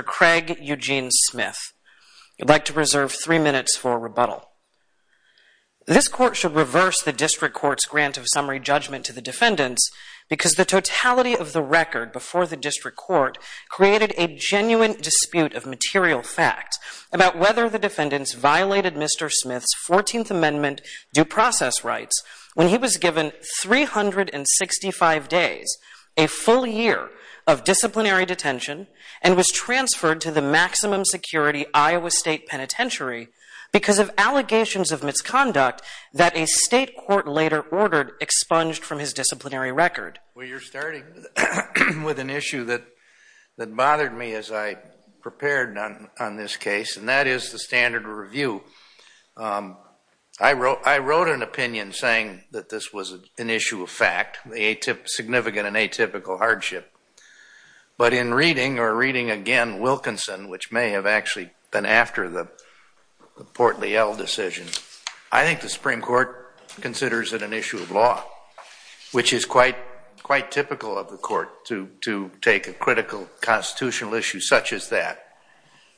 Craig Eugene Smith. I'd like to reserve three minutes for a rebuttal. This court should reverse the District Court's grant of summary judgment to the defendants because the totality of the record before the District Court created a genuine dispute of material fact about whether the defendants violated Mr. Smith's 14th Amendment due process rights when he was given 365 days, a full year of disciplinary detention, and was transferred to the maximum security Iowa State Penitentiary because of allegations of misconduct that a state court later ordered expunged from his disciplinary record. Well, you're starting with an issue that bothered me as I prepared on this case, and that is the standard review. I wrote an opinion saying that this was an issue of fact, a significant and atypical hardship, but in reading or reading again Wilkinson, which may have actually been after the Portley-Ell decision, I think the Supreme Court considers it an issue of law, which is quite typical of the court to take a critical constitutional issue such as that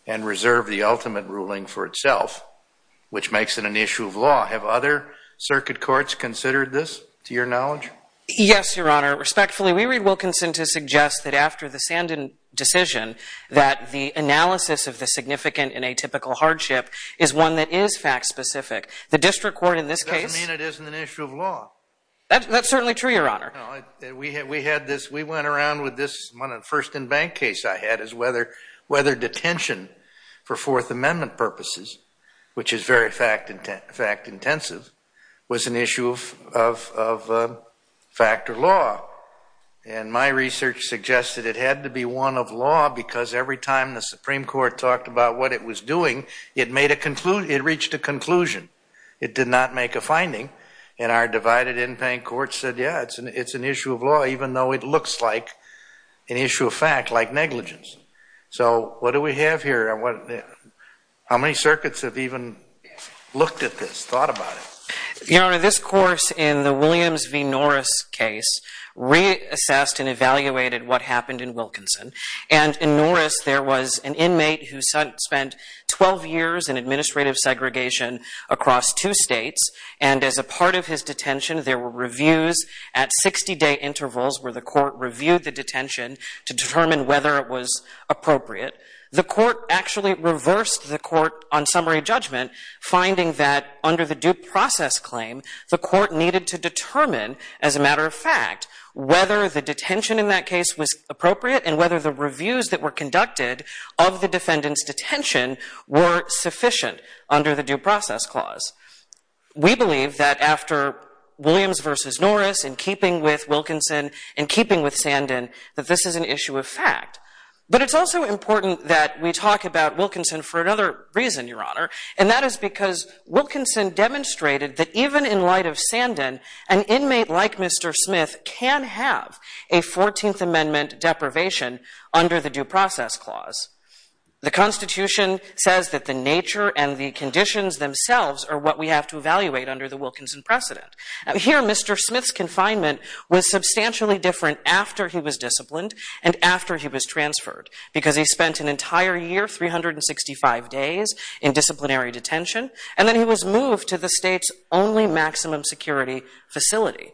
and reserve the ultimate ruling for itself, which makes it an issue of law. Have other circuit courts considered this, to your knowledge? Yes, Your Honor. Respectfully, we read Wilkinson to suggest that after the Sandin decision that the analysis of the significant and atypical hardship is one that is fact-specific. The District Court in this case... Doesn't mean it isn't an issue of law. That's certainly true, Your Honor. We went around with this first in-bank case I had as whether detention for Fourth Amendment purposes, which is very fact-intensive, was an issue of fact or law. And my research suggested it had to be one of law because every time the Supreme Court talked about what it was doing, it reached a conclusion. It did not make a finding. And our divided in-bank court said, yeah, it's an issue of law, even though it looks like an issue of fact, like negligence. So what do we have here? How many circuits have even looked at this, thought about it? Your Honor, this course in the Williams v. Norris case reassessed and evaluated what happened in Wilkinson. And in Norris, there was an inmate who spent 12 years in administrative segregation across two states. And as a part of his detention, there were reviews at 60-day intervals where the court reviewed the detention to determine whether it was appropriate. The court actually reversed the court on summary judgment, finding that under the due process claim, the court needed to determine, as a matter of fact, whether the detention in that case was appropriate and whether the reviews that were conducted of the defendant's detention were sufficient under the due process clause. We believe that after Williams v. Norris, in keeping with Wilkinson, in keeping with Sandin, that this is an issue of fact. But it's also important that we talk about Wilkinson for another reason, Your Honor. And that is because Wilkinson demonstrated that even in light of Sandin, an inmate like Mr. Smith can have a 14th Amendment deprivation under the due process clause. The Constitution says that the nature and the conditions themselves are what we have to evaluate under the Wilkinson precedent. Here, Mr. Smith's confinement was substantially different after he was disciplined and after he was transferred, because he spent an entire year, 365 days, in disciplinary detention. And then he was moved to the state's only maximum security facility.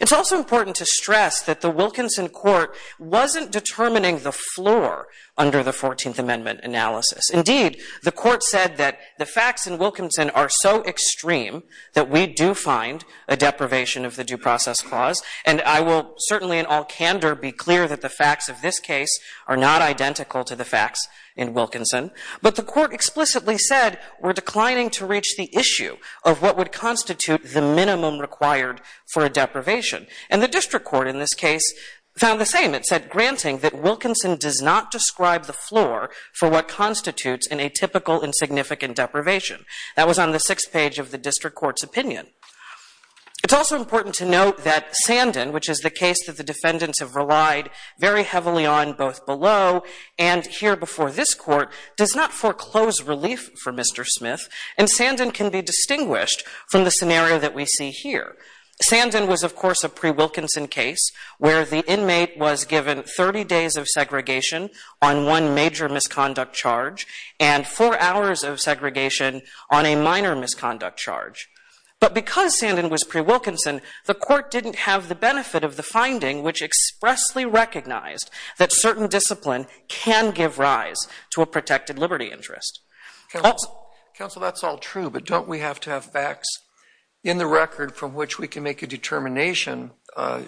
It's also important to stress that the Wilkinson court wasn't determining the floor under the 14th Amendment analysis. Indeed, the court said that the facts in Wilkinson are so extreme that we do find a deprivation of the due process clause. And I will certainly, in all candor, be clear that the facts of this case are not identical to the facts in Wilkinson. But the court explicitly said we're declining to reach the issue of what would constitute the minimum required for a deprivation. And the district court in this case found the same. It said, granting that Wilkinson does not describe the floor for what constitutes an atypical insignificant deprivation. That was on the sixth page of the district court's opinion. It's also important to note that Sandin, which is the case that the defendants have relied very heavily on both below and here before this court, does not foreclose relief for Mr. Smith. And Sandin can be distinguished from the scenario that we see here. Sandin was, of course, a pre-Wilkinson case where the inmate was given 30 days of segregation on one major misconduct charge and four hours of segregation on a minor misconduct charge. But because Sandin was pre-Wilkinson, the court didn't have the benefit of the finding which expressly recognized that certain discipline can give rise to a protected liberty interest. Counsel, that's all true, but don't we have to have facts in the record from which we can make a determination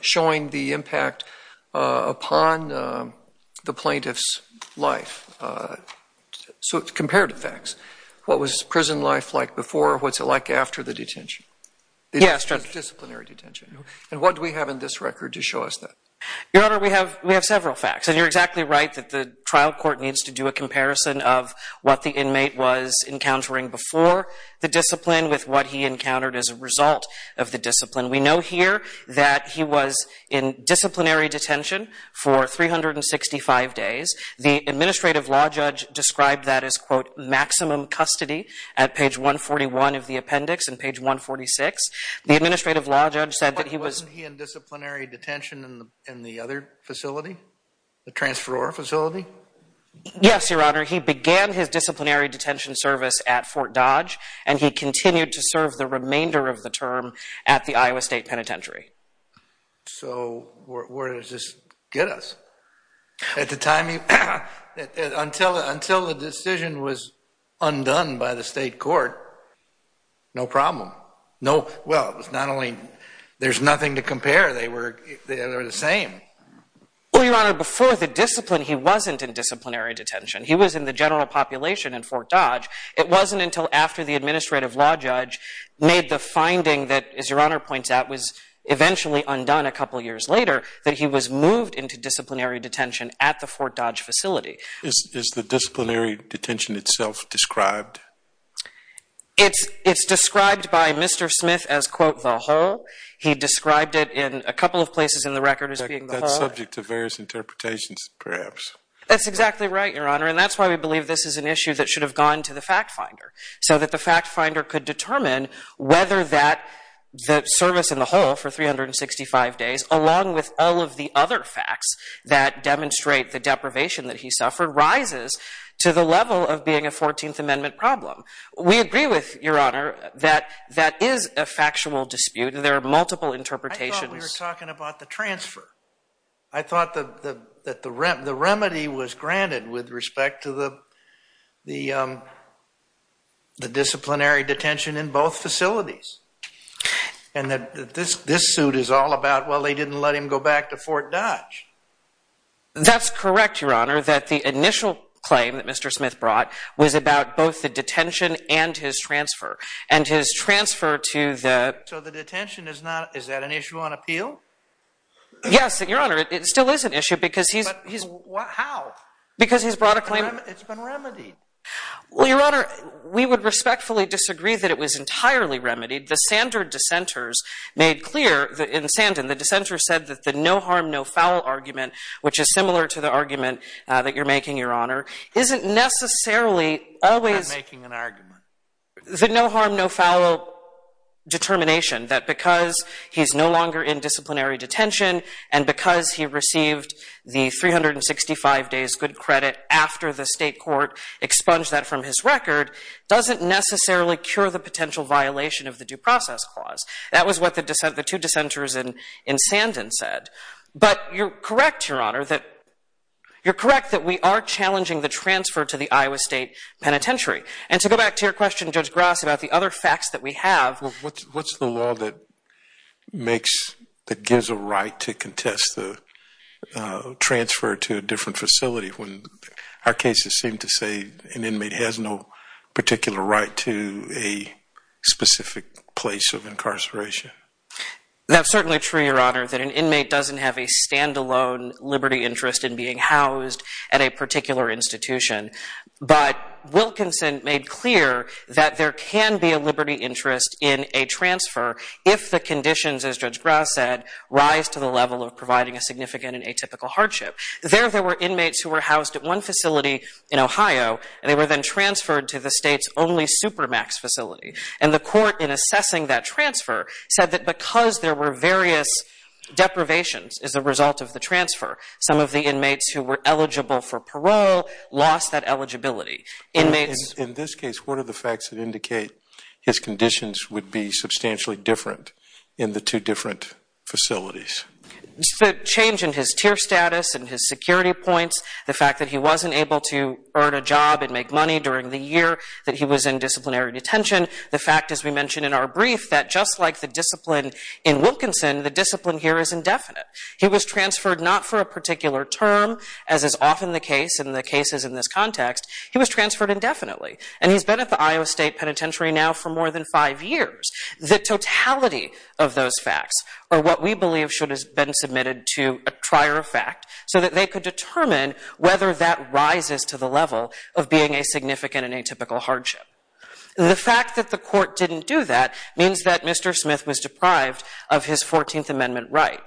showing the impact upon the plaintiff's life? So, compared to facts, what was prison life like before? What's it like after the detention? Yes. Disciplinary detention. And what do we have in this record to show us that? Your Honor, we have several facts. And you're exactly right that the trial court needs to do a comparison of what the inmate was encountering before the discipline with what he encountered as a result of the discipline. We know here that he was in disciplinary detention for 365 days. The administrative law judge described that as, quote, maximum custody at page 141 of the appendix and page 146. The administrative law judge said that he was... But wasn't he in disciplinary detention in the other facility? The transferor facility? Yes, Your Honor. He began his disciplinary detention service at Fort Dodge, and he continued to serve the remainder of the term at the Iowa State Penitentiary. So where does this get us? Until the decision was undone by the state court, no problem. Well, it was not only... There's nothing to compare. They were the same. Well, Your Honor, before the discipline, he wasn't in disciplinary detention. He was in the general population in Fort Dodge. It wasn't until after the administrative law judge made the finding that, as Your Honor points out, was eventually undone a couple of years later that he was moved into disciplinary detention at the Fort Dodge facility. Is the disciplinary detention itself described? It's described by Mr. Smith as, quote, the whole. He described it in a couple of places in the subject of various interpretations, perhaps. That's exactly right, Your Honor. And that's why we believe this is an issue that should have gone to the fact finder, so that the fact finder could determine whether that service in the whole for 365 days, along with all of the other facts that demonstrate the deprivation that he suffered, rises to the level of being a 14th Amendment problem. We agree with, Your Honor, that that is a factual dispute. There are multiple interpretations. I thought we were talking about the transfer. I thought the remedy was granted with respect to the disciplinary detention in both facilities. And that this suit is all about, well, they didn't let him go back to Fort Dodge. That's correct, Your Honor, that the initial claim that Mr. Smith brought was about both the detention and his transfer. And his transfer to the— So the detention is not—is that an issue on appeal? Yes, Your Honor. It still is an issue, because he's— But how? Because he's brought a claim— It's been remedied. Well, Your Honor, we would respectfully disagree that it was entirely remedied. The Sandor dissenters made clear—in Sandon, the dissenters said that the no harm, no foul argument, which is similar to the argument that you're making, Your Honor, isn't necessarily always— I'm making an argument. The no harm, no foul determination that because he's no longer in disciplinary detention and because he received the 365 days good credit after the state court expunged that from his record doesn't necessarily cure the potential violation of the due process clause. That was what the two dissenters in Sandon said. But you're correct, Your Honor, that you're correct that we are challenging the transfer to the Iowa State Penitentiary. And to go back to your question, Judge Grass, about the other facts that we have— Well, what's the law that makes—that gives a right to contest the transfer to a different facility when our cases seem to say an inmate has no particular right to a specific place of incarceration? That's certainly true, Your Honor, that an inmate doesn't have a standalone liberty interest in being housed at a particular institution. But Wilkinson made clear that there can be a liberty interest in a transfer if the conditions, as Judge Grass said, rise to the level of providing a significant and atypical hardship. There, there were inmates who were housed at one facility in Ohio, and they were then transferred to the state's only supermax facility. And the court, in assessing that transfer, said that because there were various deprivations as a result of the transfer, some of the inmates who were eligible for parole lost that eligibility. Inmates— In this case, what are the facts that indicate his conditions would be substantially different in the two different facilities? The change in his tier status and his security points, the fact that he wasn't able to earn a job and make money during the year that he was in disciplinary detention, the fact, as we mentioned in our brief, that just like the discipline in Wilkinson, the discipline here is indefinite. He was transferred not for a particular term, as is often the case in the cases in this context, he was transferred indefinitely. And he's been at the Iowa State Penitentiary now for more than five years. The totality of those facts are what we believe should have been submitted to a trier of fact so that they could determine whether that rises to the level of being a significant and atypical hardship. The fact that the court didn't do that means that Mr. Smith was deprived of his 14th Amendment right.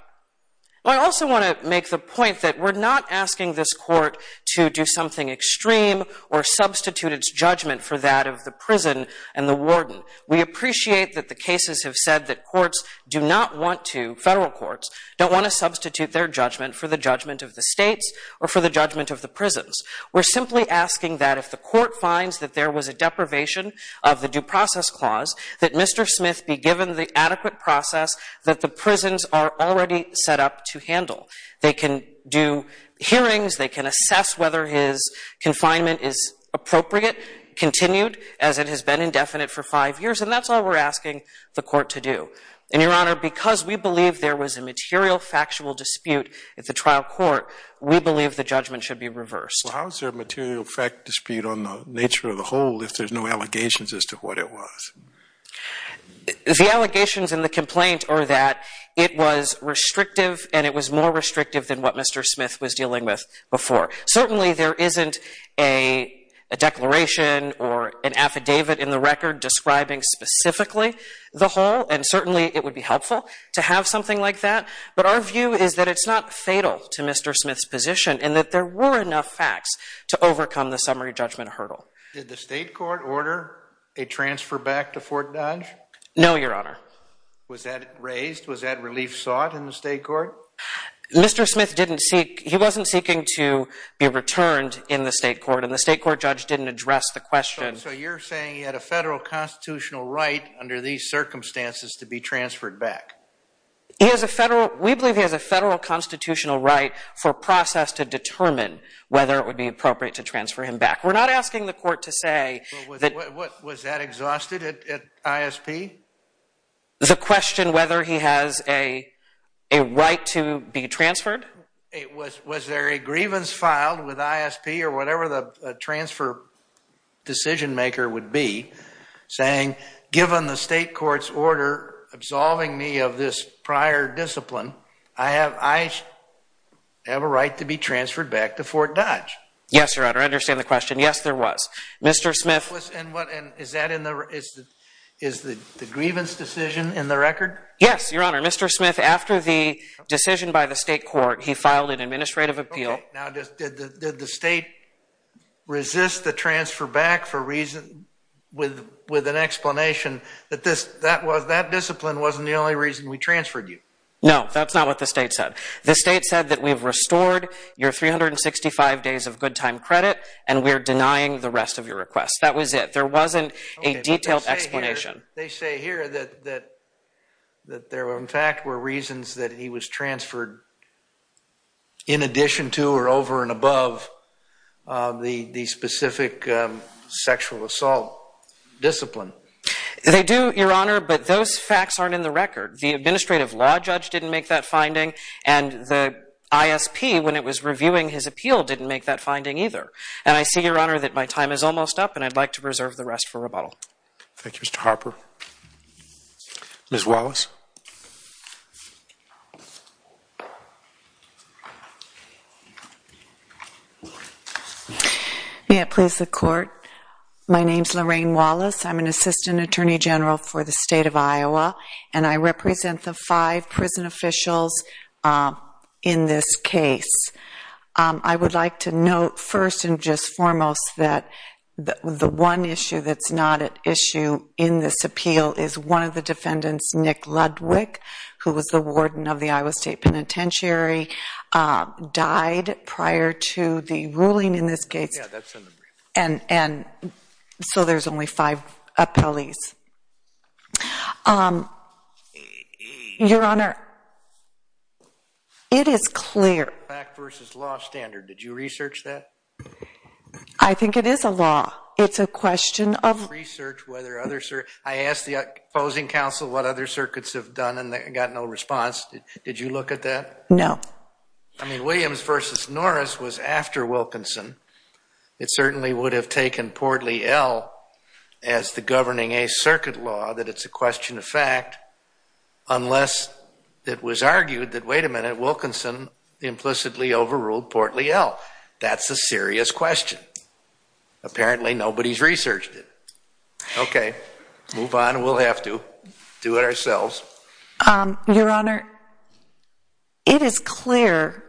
I also want to make the point that we're not asking this court to do something extreme or substitute its judgment for that of the prison and the warden. We appreciate that the cases have said that courts do not want to—federal courts—don't want to substitute their judgment for the judgment of the states or for the judgment of the prisons. We're simply asking that if the court finds that there was a deprivation of the Due Process Clause, that Mr. Smith be given the adequate process that the prisons are already set up to handle. They can do hearings. They can assess whether his confinement is appropriate, continued, as it has been indefinite for five years. And that's all we're asking the court to do. And, Your Honor, because we believe there was a material factual dispute at the trial court, we believe the judgment should be reversed. Well, how is there a material fact dispute on the nature of the whole if there's no The allegations in the complaint are that it was restrictive and it was more restrictive than what Mr. Smith was dealing with before. Certainly there isn't a declaration or an affidavit in the record describing specifically the whole, and certainly it would be helpful to have something like that. But our view is that it's not fatal to Mr. Smith's position and that there were enough facts to overcome the summary judgment hurdle. Did the state court order a transfer back to Fort Dodge? No, Your Honor. Was that raised? Was that relief sought in the state court? Mr. Smith didn't seek, he wasn't seeking to be returned in the state court, and the state court judge didn't address the question. So you're saying he had a federal constitutional right under these circumstances to be transferred back? He has a federal, we believe he has a federal constitutional right for process to determine whether it would be appropriate to transfer him back. We're not asking the court to say... Was that exhausted at ISP? The question whether he has a right to be transferred? Was there a grievance filed with ISP or whatever the transfer decision maker would be saying, given the state court's order absolving me of this prior discipline, I have a right to be transferred back to Fort Dodge? Yes, Your Honor. I understand the question. Yes, there was. Mr. Smith... Was, and what, is that in the, is the grievance decision in the record? Yes, Your Honor. Mr. Smith, after the decision by the state court, he filed an administrative appeal. Now, did the state resist the transfer back for reason, with an explanation that this, that was, that discipline wasn't the only reason we transferred you? No, that's not what the state said. The state said that we've restored your 365 days of good time credit, and we're denying the rest of your request. That was it. There wasn't a detailed explanation. They say here that, that, that there were, in fact, were reasons that he was transferred in addition to or over and above the, the specific sexual assault discipline. They do, Your Honor, but those facts aren't in the record. The administrative law judge didn't make that finding, and the ISP, when it was reviewing his appeal, didn't make that finding either. And I see, Your Honor, that my time is almost up, and I'd like to preserve the rest for rebuttal. Thank you, Mr. Harper. Ms. Wallace. May it please the court. My name's Lorraine Wallace. I'm an assistant attorney general for the state of Iowa, and I represent the five prison officials in this case. I would like to note, first and just foremost, that the one issue that's not at issue in this appeal is one of the defendants, Nick Ludwick, who was the warden of the Iowa State Penitentiary, died prior to the ruling in this case. Yeah, that's in the brief. And, and so there's only five appellees. Your Honor, it is clear. Fact versus law standard. Did you research that? I think it is a law. It's a question of... Research whether other... I asked the opposing counsel what other circuits have done, and they got no response. Did you look at that? No. I mean, Williams versus Norris was after Wilkinson. It certainly would have taken Portly L as the governing a circuit law, that it's a question of fact, unless it was argued that, wait a minute, Wilkinson implicitly overruled Portly L. That's a serious question. Apparently, nobody's researched it. Okay, move on. We'll have to do it ourselves. Your Honor, it is clear.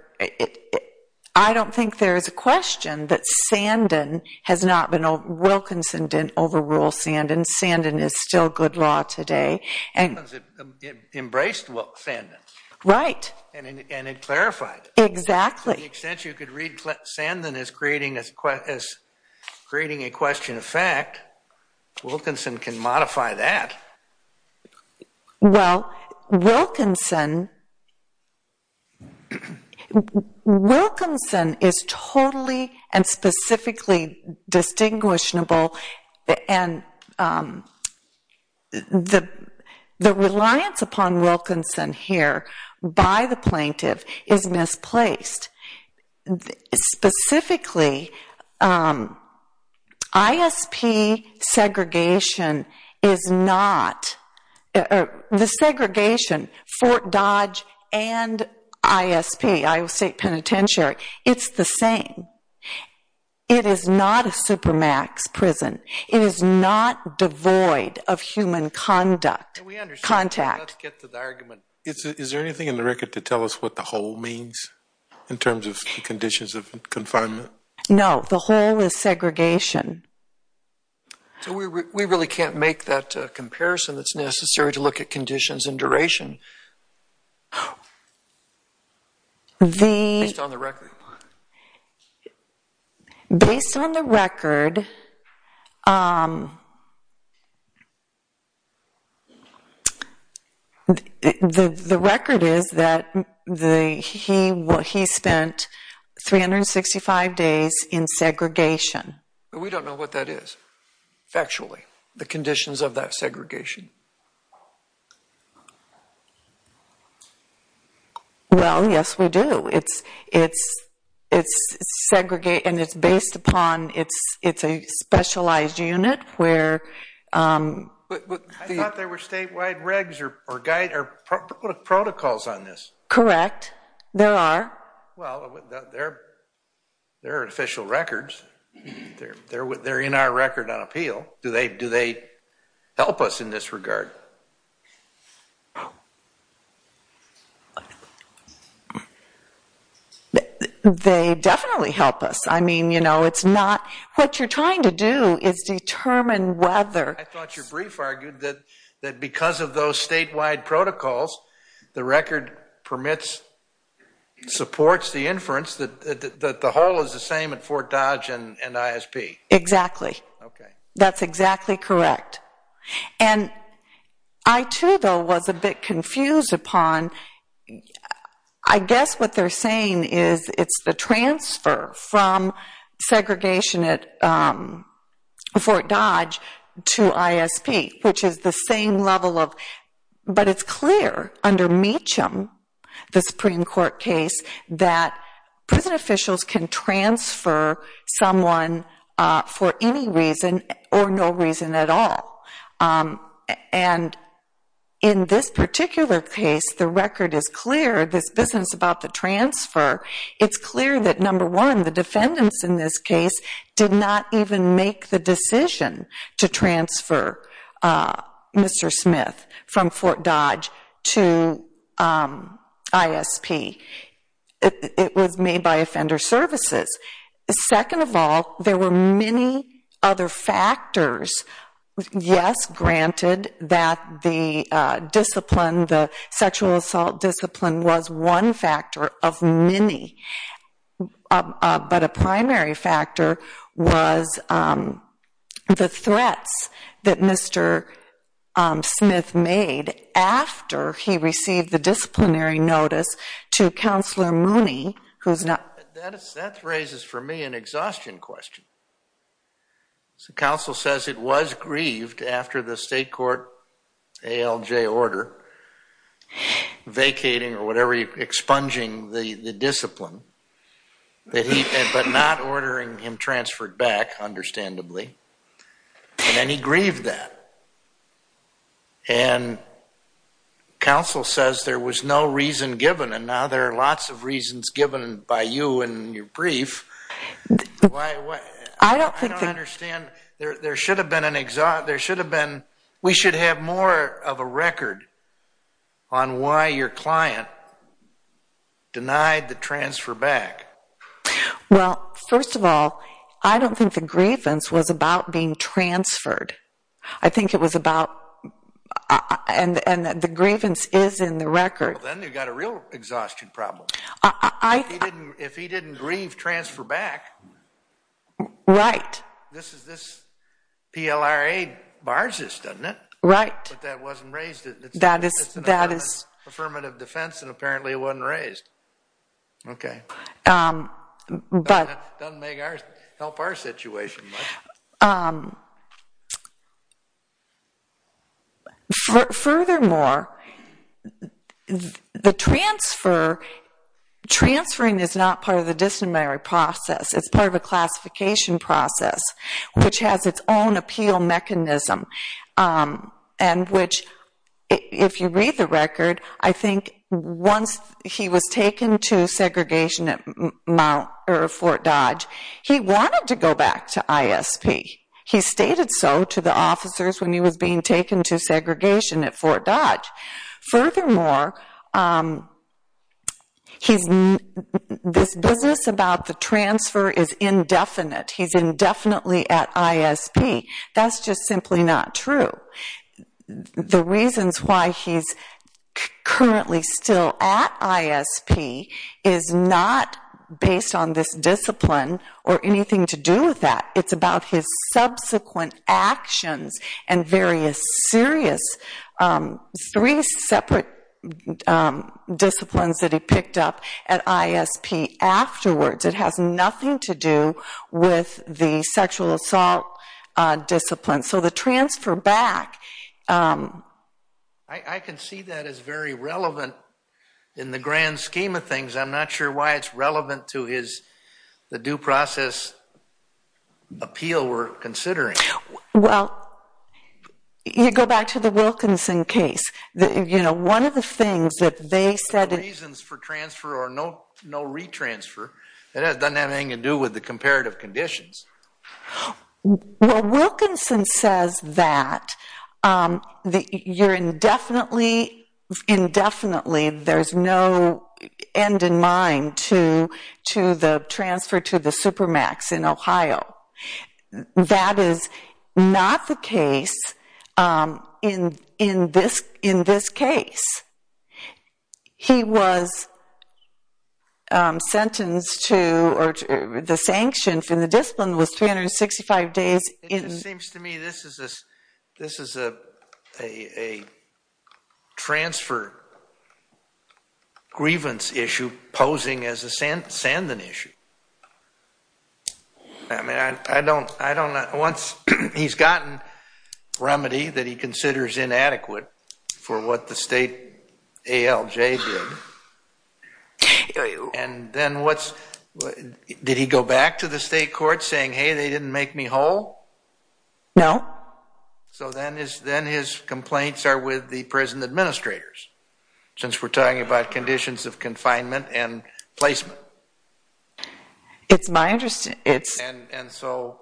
I don't think there is a question that Sandin has not been... Wilkinson didn't overrule Sandin. Sandin is still good law today. Because it embraced Sandin. Right. And it clarified it. Exactly. To the extent you could read Sandin as creating a question of fact, Wilkinson can modify that. Well, Wilkinson... Wilkinson is totally and specifically distinguishable. And the reliance upon Wilkinson here by the plaintiff is misplaced. Specifically, ISP segregation is not... The segregation, Fort Dodge and ISP, Iowa State Penitentiary, it's the same. It is not a supermax prison. It is not devoid of human conduct, contact. Let's get to the argument. Is there anything in the record to tell us what the whole means? In terms of conditions of confinement? No, the whole is segregation. So we really can't make that comparison that's necessary to look at conditions and duration. Based on the record. Based on the record. The record is that he spent 365 days in segregation. But we don't know what that is, factually, the conditions of that segregation. Well, yes, we do. It's segregated and it's based upon... It's a specialized unit where... I thought there were statewide regs or protocols on this. Correct. There are. Well, there are official records. They're in our record on appeal. Do they help us in this regard? They definitely help us. I mean, you know, it's not... What you're trying to do is determine whether... I thought your brief argued that because of those statewide protocols, the record permits, supports the inference that the whole is the same at Fort Dodge and ISP. Exactly. That's exactly correct. And I too, though, was a bit confused upon... It's the transfer from segregation at Fort Dodge to ISP, which is the same level of... But it's clear under Meacham, the Supreme Court case, that prison officials can transfer someone for any reason or no reason at all. And in this particular case, the record is clear. This business about the transfer, it's clear that, number one, the defendants in this case did not even make the decision to transfer Mr. Smith from Fort Dodge to ISP. It was made by Offender Services. Second of all, there were many other factors. Yes, granted that the sexual assault discipline was one factor of many, but a primary factor was the threats that Mr. Smith made after he received the disciplinary notice to Counselor Mooney, who's not... That raises for me an exhaustion question. So Counsel says it was grieved after the state court ALJ order, vacating or whatever, expunging the discipline, but not ordering him transferred back, understandably. And then he grieved that. And Counsel says there was no reason given, and now there are lots of reasons given by you in your brief. I don't think that... I don't understand. We should have more of a record on why your client denied the transfer back. Well, first of all, I don't think the grievance was about being transferred. I think it was about... And the grievance is in the record. Then you've got a real exhaustion problem. I... If he didn't grieve, transfer back. Right. This PLRA bars us, doesn't it? Right. But that wasn't raised. That is... Affirmative defense, and apparently it wasn't raised. Okay. But... Doesn't help our situation much. Furthermore, the transfer... Transferring is not part of the disciplinary process. It's part of a classification process, which has its own appeal mechanism. And which, if you read the record, I think once he was taken to segregation at Fort Dodge, he wanted to go back to ISP. He stated so to the officers when he was being taken to segregation at Fort Dodge. Furthermore, this business about the transfer is indefinite. He's indefinitely at ISP. That's just simply not true. The reasons why he's currently still at ISP is not based on this discipline or anything to do with that. It's about his subsequent actions and various serious three separate disciplines that he picked up at ISP afterwards. It has nothing to do with the sexual assault discipline. So the transfer back... I can see that as very relevant in the grand scheme of things. I'm not sure why it's relevant to the due process appeal we're considering. Well, you go back to the Wilkinson case. One of the things that they said... No reasons for transfer or no re-transfer. It doesn't have anything to do with the comparative conditions. Well, Wilkinson says that you're indefinitely... to the transfer to the Supermax in Ohio. That is not the case in this case. He was sentenced to... The sanction from the discipline was 365 days in... It seems to me this is a transfer grievance issue posing as a Sandan issue. Once he's gotten remedy that he considers inadequate for what the state ALJ did, and then what's... Did he go back to the state court saying, hey, they didn't make me whole? No. So then his complaints are with the prison administrators, since we're talking about conditions of confinement and placement. It's my interest... And so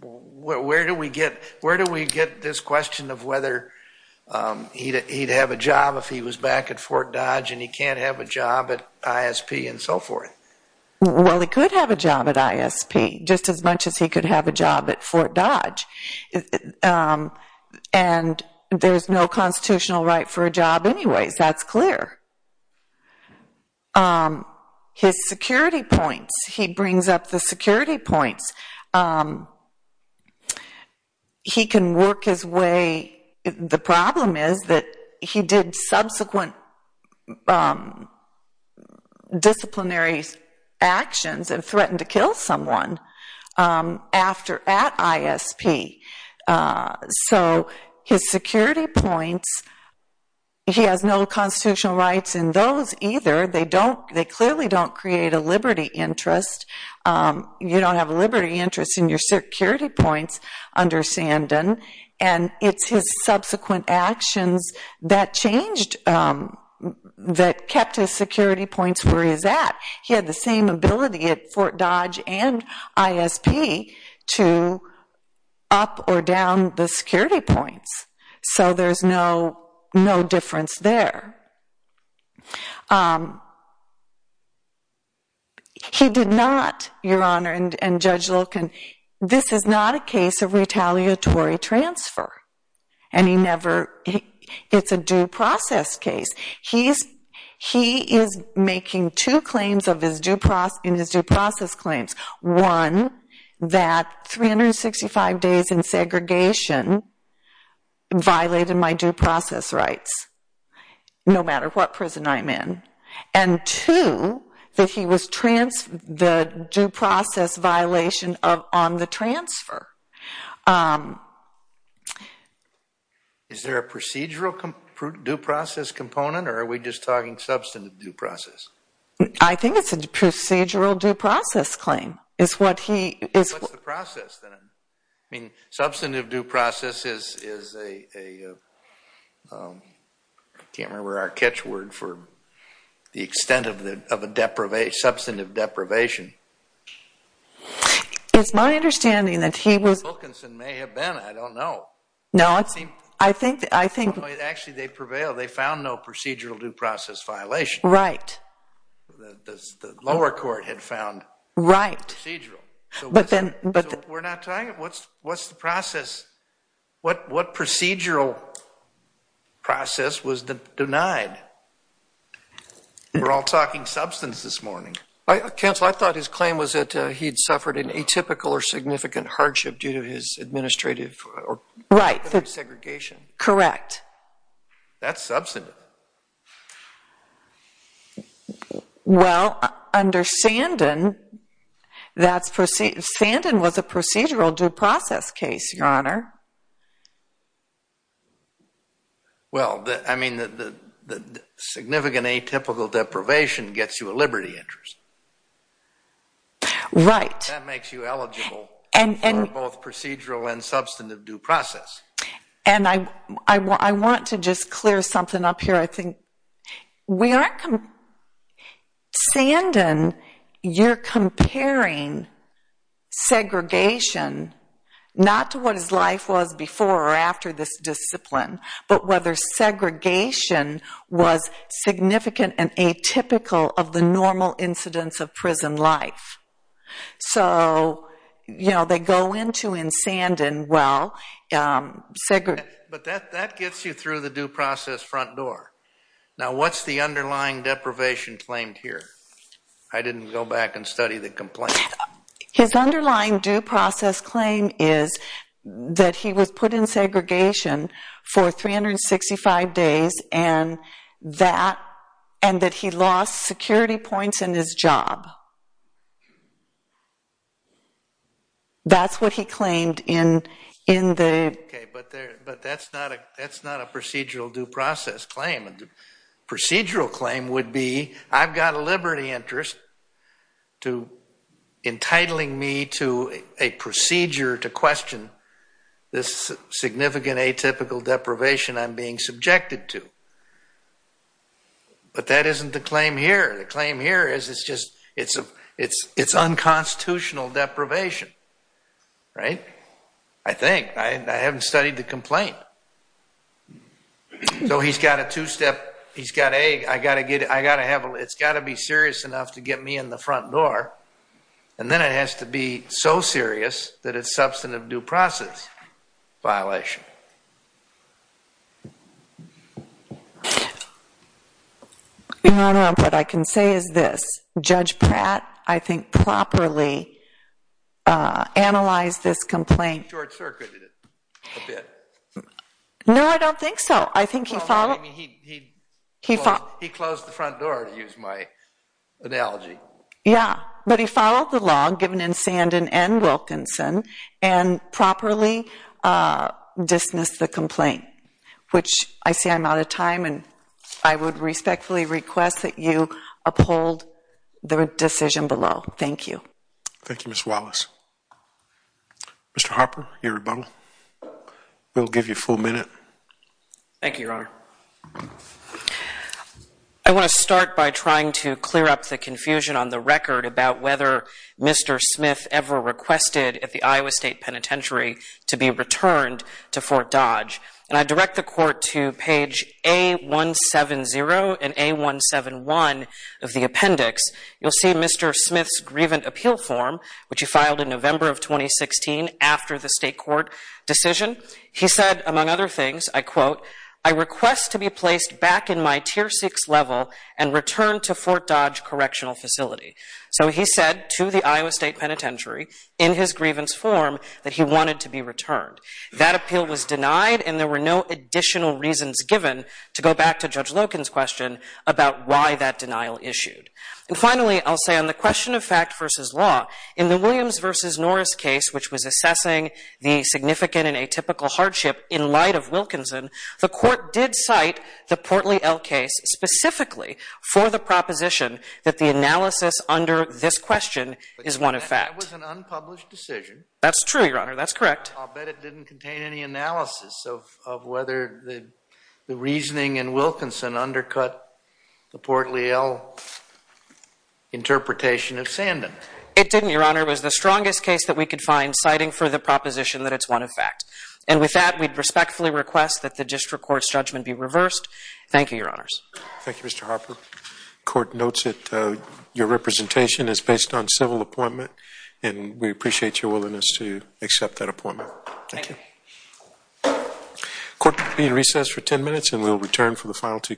where do we get this question of whether he'd have a job if he was back at Fort Dodge, and he can't have a job at ISP and so forth? Well, he could have a job at ISP, just as much as he could have a job at Fort Dodge. And there's no constitutional right for a job anyways, that's clear. His security points, he brings up the security points. He can work his way... The problem is that he did subsequent disciplinary actions and threatened to kill someone at ISP. So his security points, he has no constitutional rights in those either. They clearly don't create a liberty interest. You don't have a liberty interest in your security points under Sandan, and it's his subsequent actions that changed, that kept his security points where he's at. He had the same ability at Fort Dodge and ISP to up or down the security points. So there's no difference there. He did not, Your Honor, and Judge Loken, this is not a case of retaliatory transfer. It's a due process case. He is making two claims in his due process claims. One, that 365 days in segregation violated my due process rights, no matter what prison I'm in. And two, the due process violation on the transfer. Is there a procedural due process component, or are we just talking substantive due process? I think it's a procedural due process claim. What's the process then? Substantive due process is a... I can't remember our catch word for the extent of a substantive deprivation. It's my understanding that he was... Lokenson may have been, I don't know. No, I think... Actually, they prevailed. They found no procedural due process violation. Right. The lower court had found procedural. But then... We're not talking... What's the process? What procedural process was denied? We're all talking substance this morning. Counsel, I thought his claim was that he'd suffered an atypical or significant hardship due to his administrative or segregation. Correct. That's substantive. Well, under Sandin, that's... Sandin was a procedural due process case, Your Honor. Well, I mean, the significant atypical deprivation gets you a liberty interest. Right. That makes you eligible for both procedural and substantive due process. And I want to just clear something up here. I think we aren't... Sandin, you're comparing segregation, not to what his life was before or after this discipline, but whether segregation was significant and atypical of the normal incidence of prison life. So, you know, they go into in Sandin, well, segregation... But that gets you through the due process front door. Now, what's the underlying deprivation claimed here? I didn't go back and study the complaint. His underlying due process claim is that he was put in segregation for 365 days and that he lost security points in his job. That's what he claimed in the... Okay, but that's not a procedural due process claim. Procedural claim would be, I've got a liberty interest to entitling me to a procedure to question this significant atypical deprivation I'm being subjected to. But that isn't the claim here. The claim here is it's just, it's unconstitutional deprivation. Right. I think. I haven't studied the complaint. So he's got a two-step. He's got a, I got to get it. I got to have it. It's got to be serious enough to get me in the front door. And then it has to be so serious that it's substantive due process violation. Your Honor, what I can say is this. Judge Pratt, I think, properly analyzed this complaint. Short circuited it a bit. No, I don't think so. I think he followed. He closed the front door to use my analogy. Yeah, but he followed the law given in Sandin and Wilkinson and properly dismissed the complaint. Which I see I'm out of time and I would respectfully request that you uphold the decision below. Thank you. Thank you, Ms. Wallace. Mr. Harper, your rebuttal. We'll give you a full minute. Thank you, Your Honor. I want to start by trying to clear up the confusion on the record about whether Mr. Smith ever requested at the Iowa State Penitentiary to be returned to Fort Dodge. And I direct the court to page A170 and A171 of the appendix. You'll see Mr. Smith's grievant appeal form, which he filed in November of 2016 after the state court decision. He said, among other things, I quote, I request to be placed back in my tier six level and return to Fort Dodge Correctional Facility. So he said to the Iowa State Penitentiary in his grievance form that he wanted to be returned. That appeal was denied and there were no additional reasons given to go back to Judge Loken's question about why that denial issued. And finally, I'll say on the question of fact versus law, the Williams versus Norris case, which was assessing the significant and atypical hardship in light of Wilkinson, the court did cite the Portley L case specifically for the proposition that the analysis under this question is one of fact. That was an unpublished decision. That's true, Your Honor. That's correct. I'll bet it didn't contain any analysis of whether the reasoning in Wilkinson undercut the Portley L interpretation of Sandin. It didn't, Your Honor. It was the strongest case that we could find citing for the proposition that it's one of fact. And with that, we'd respectfully request that the district court's judgment be reversed. Thank you, Your Honors. Thank you, Mr. Harper. Court notes that your representation is based on civil appointment and we appreciate your willingness to accept that appointment. Thank you. Court will be in recess for 10 minutes and we'll return for the final two cases.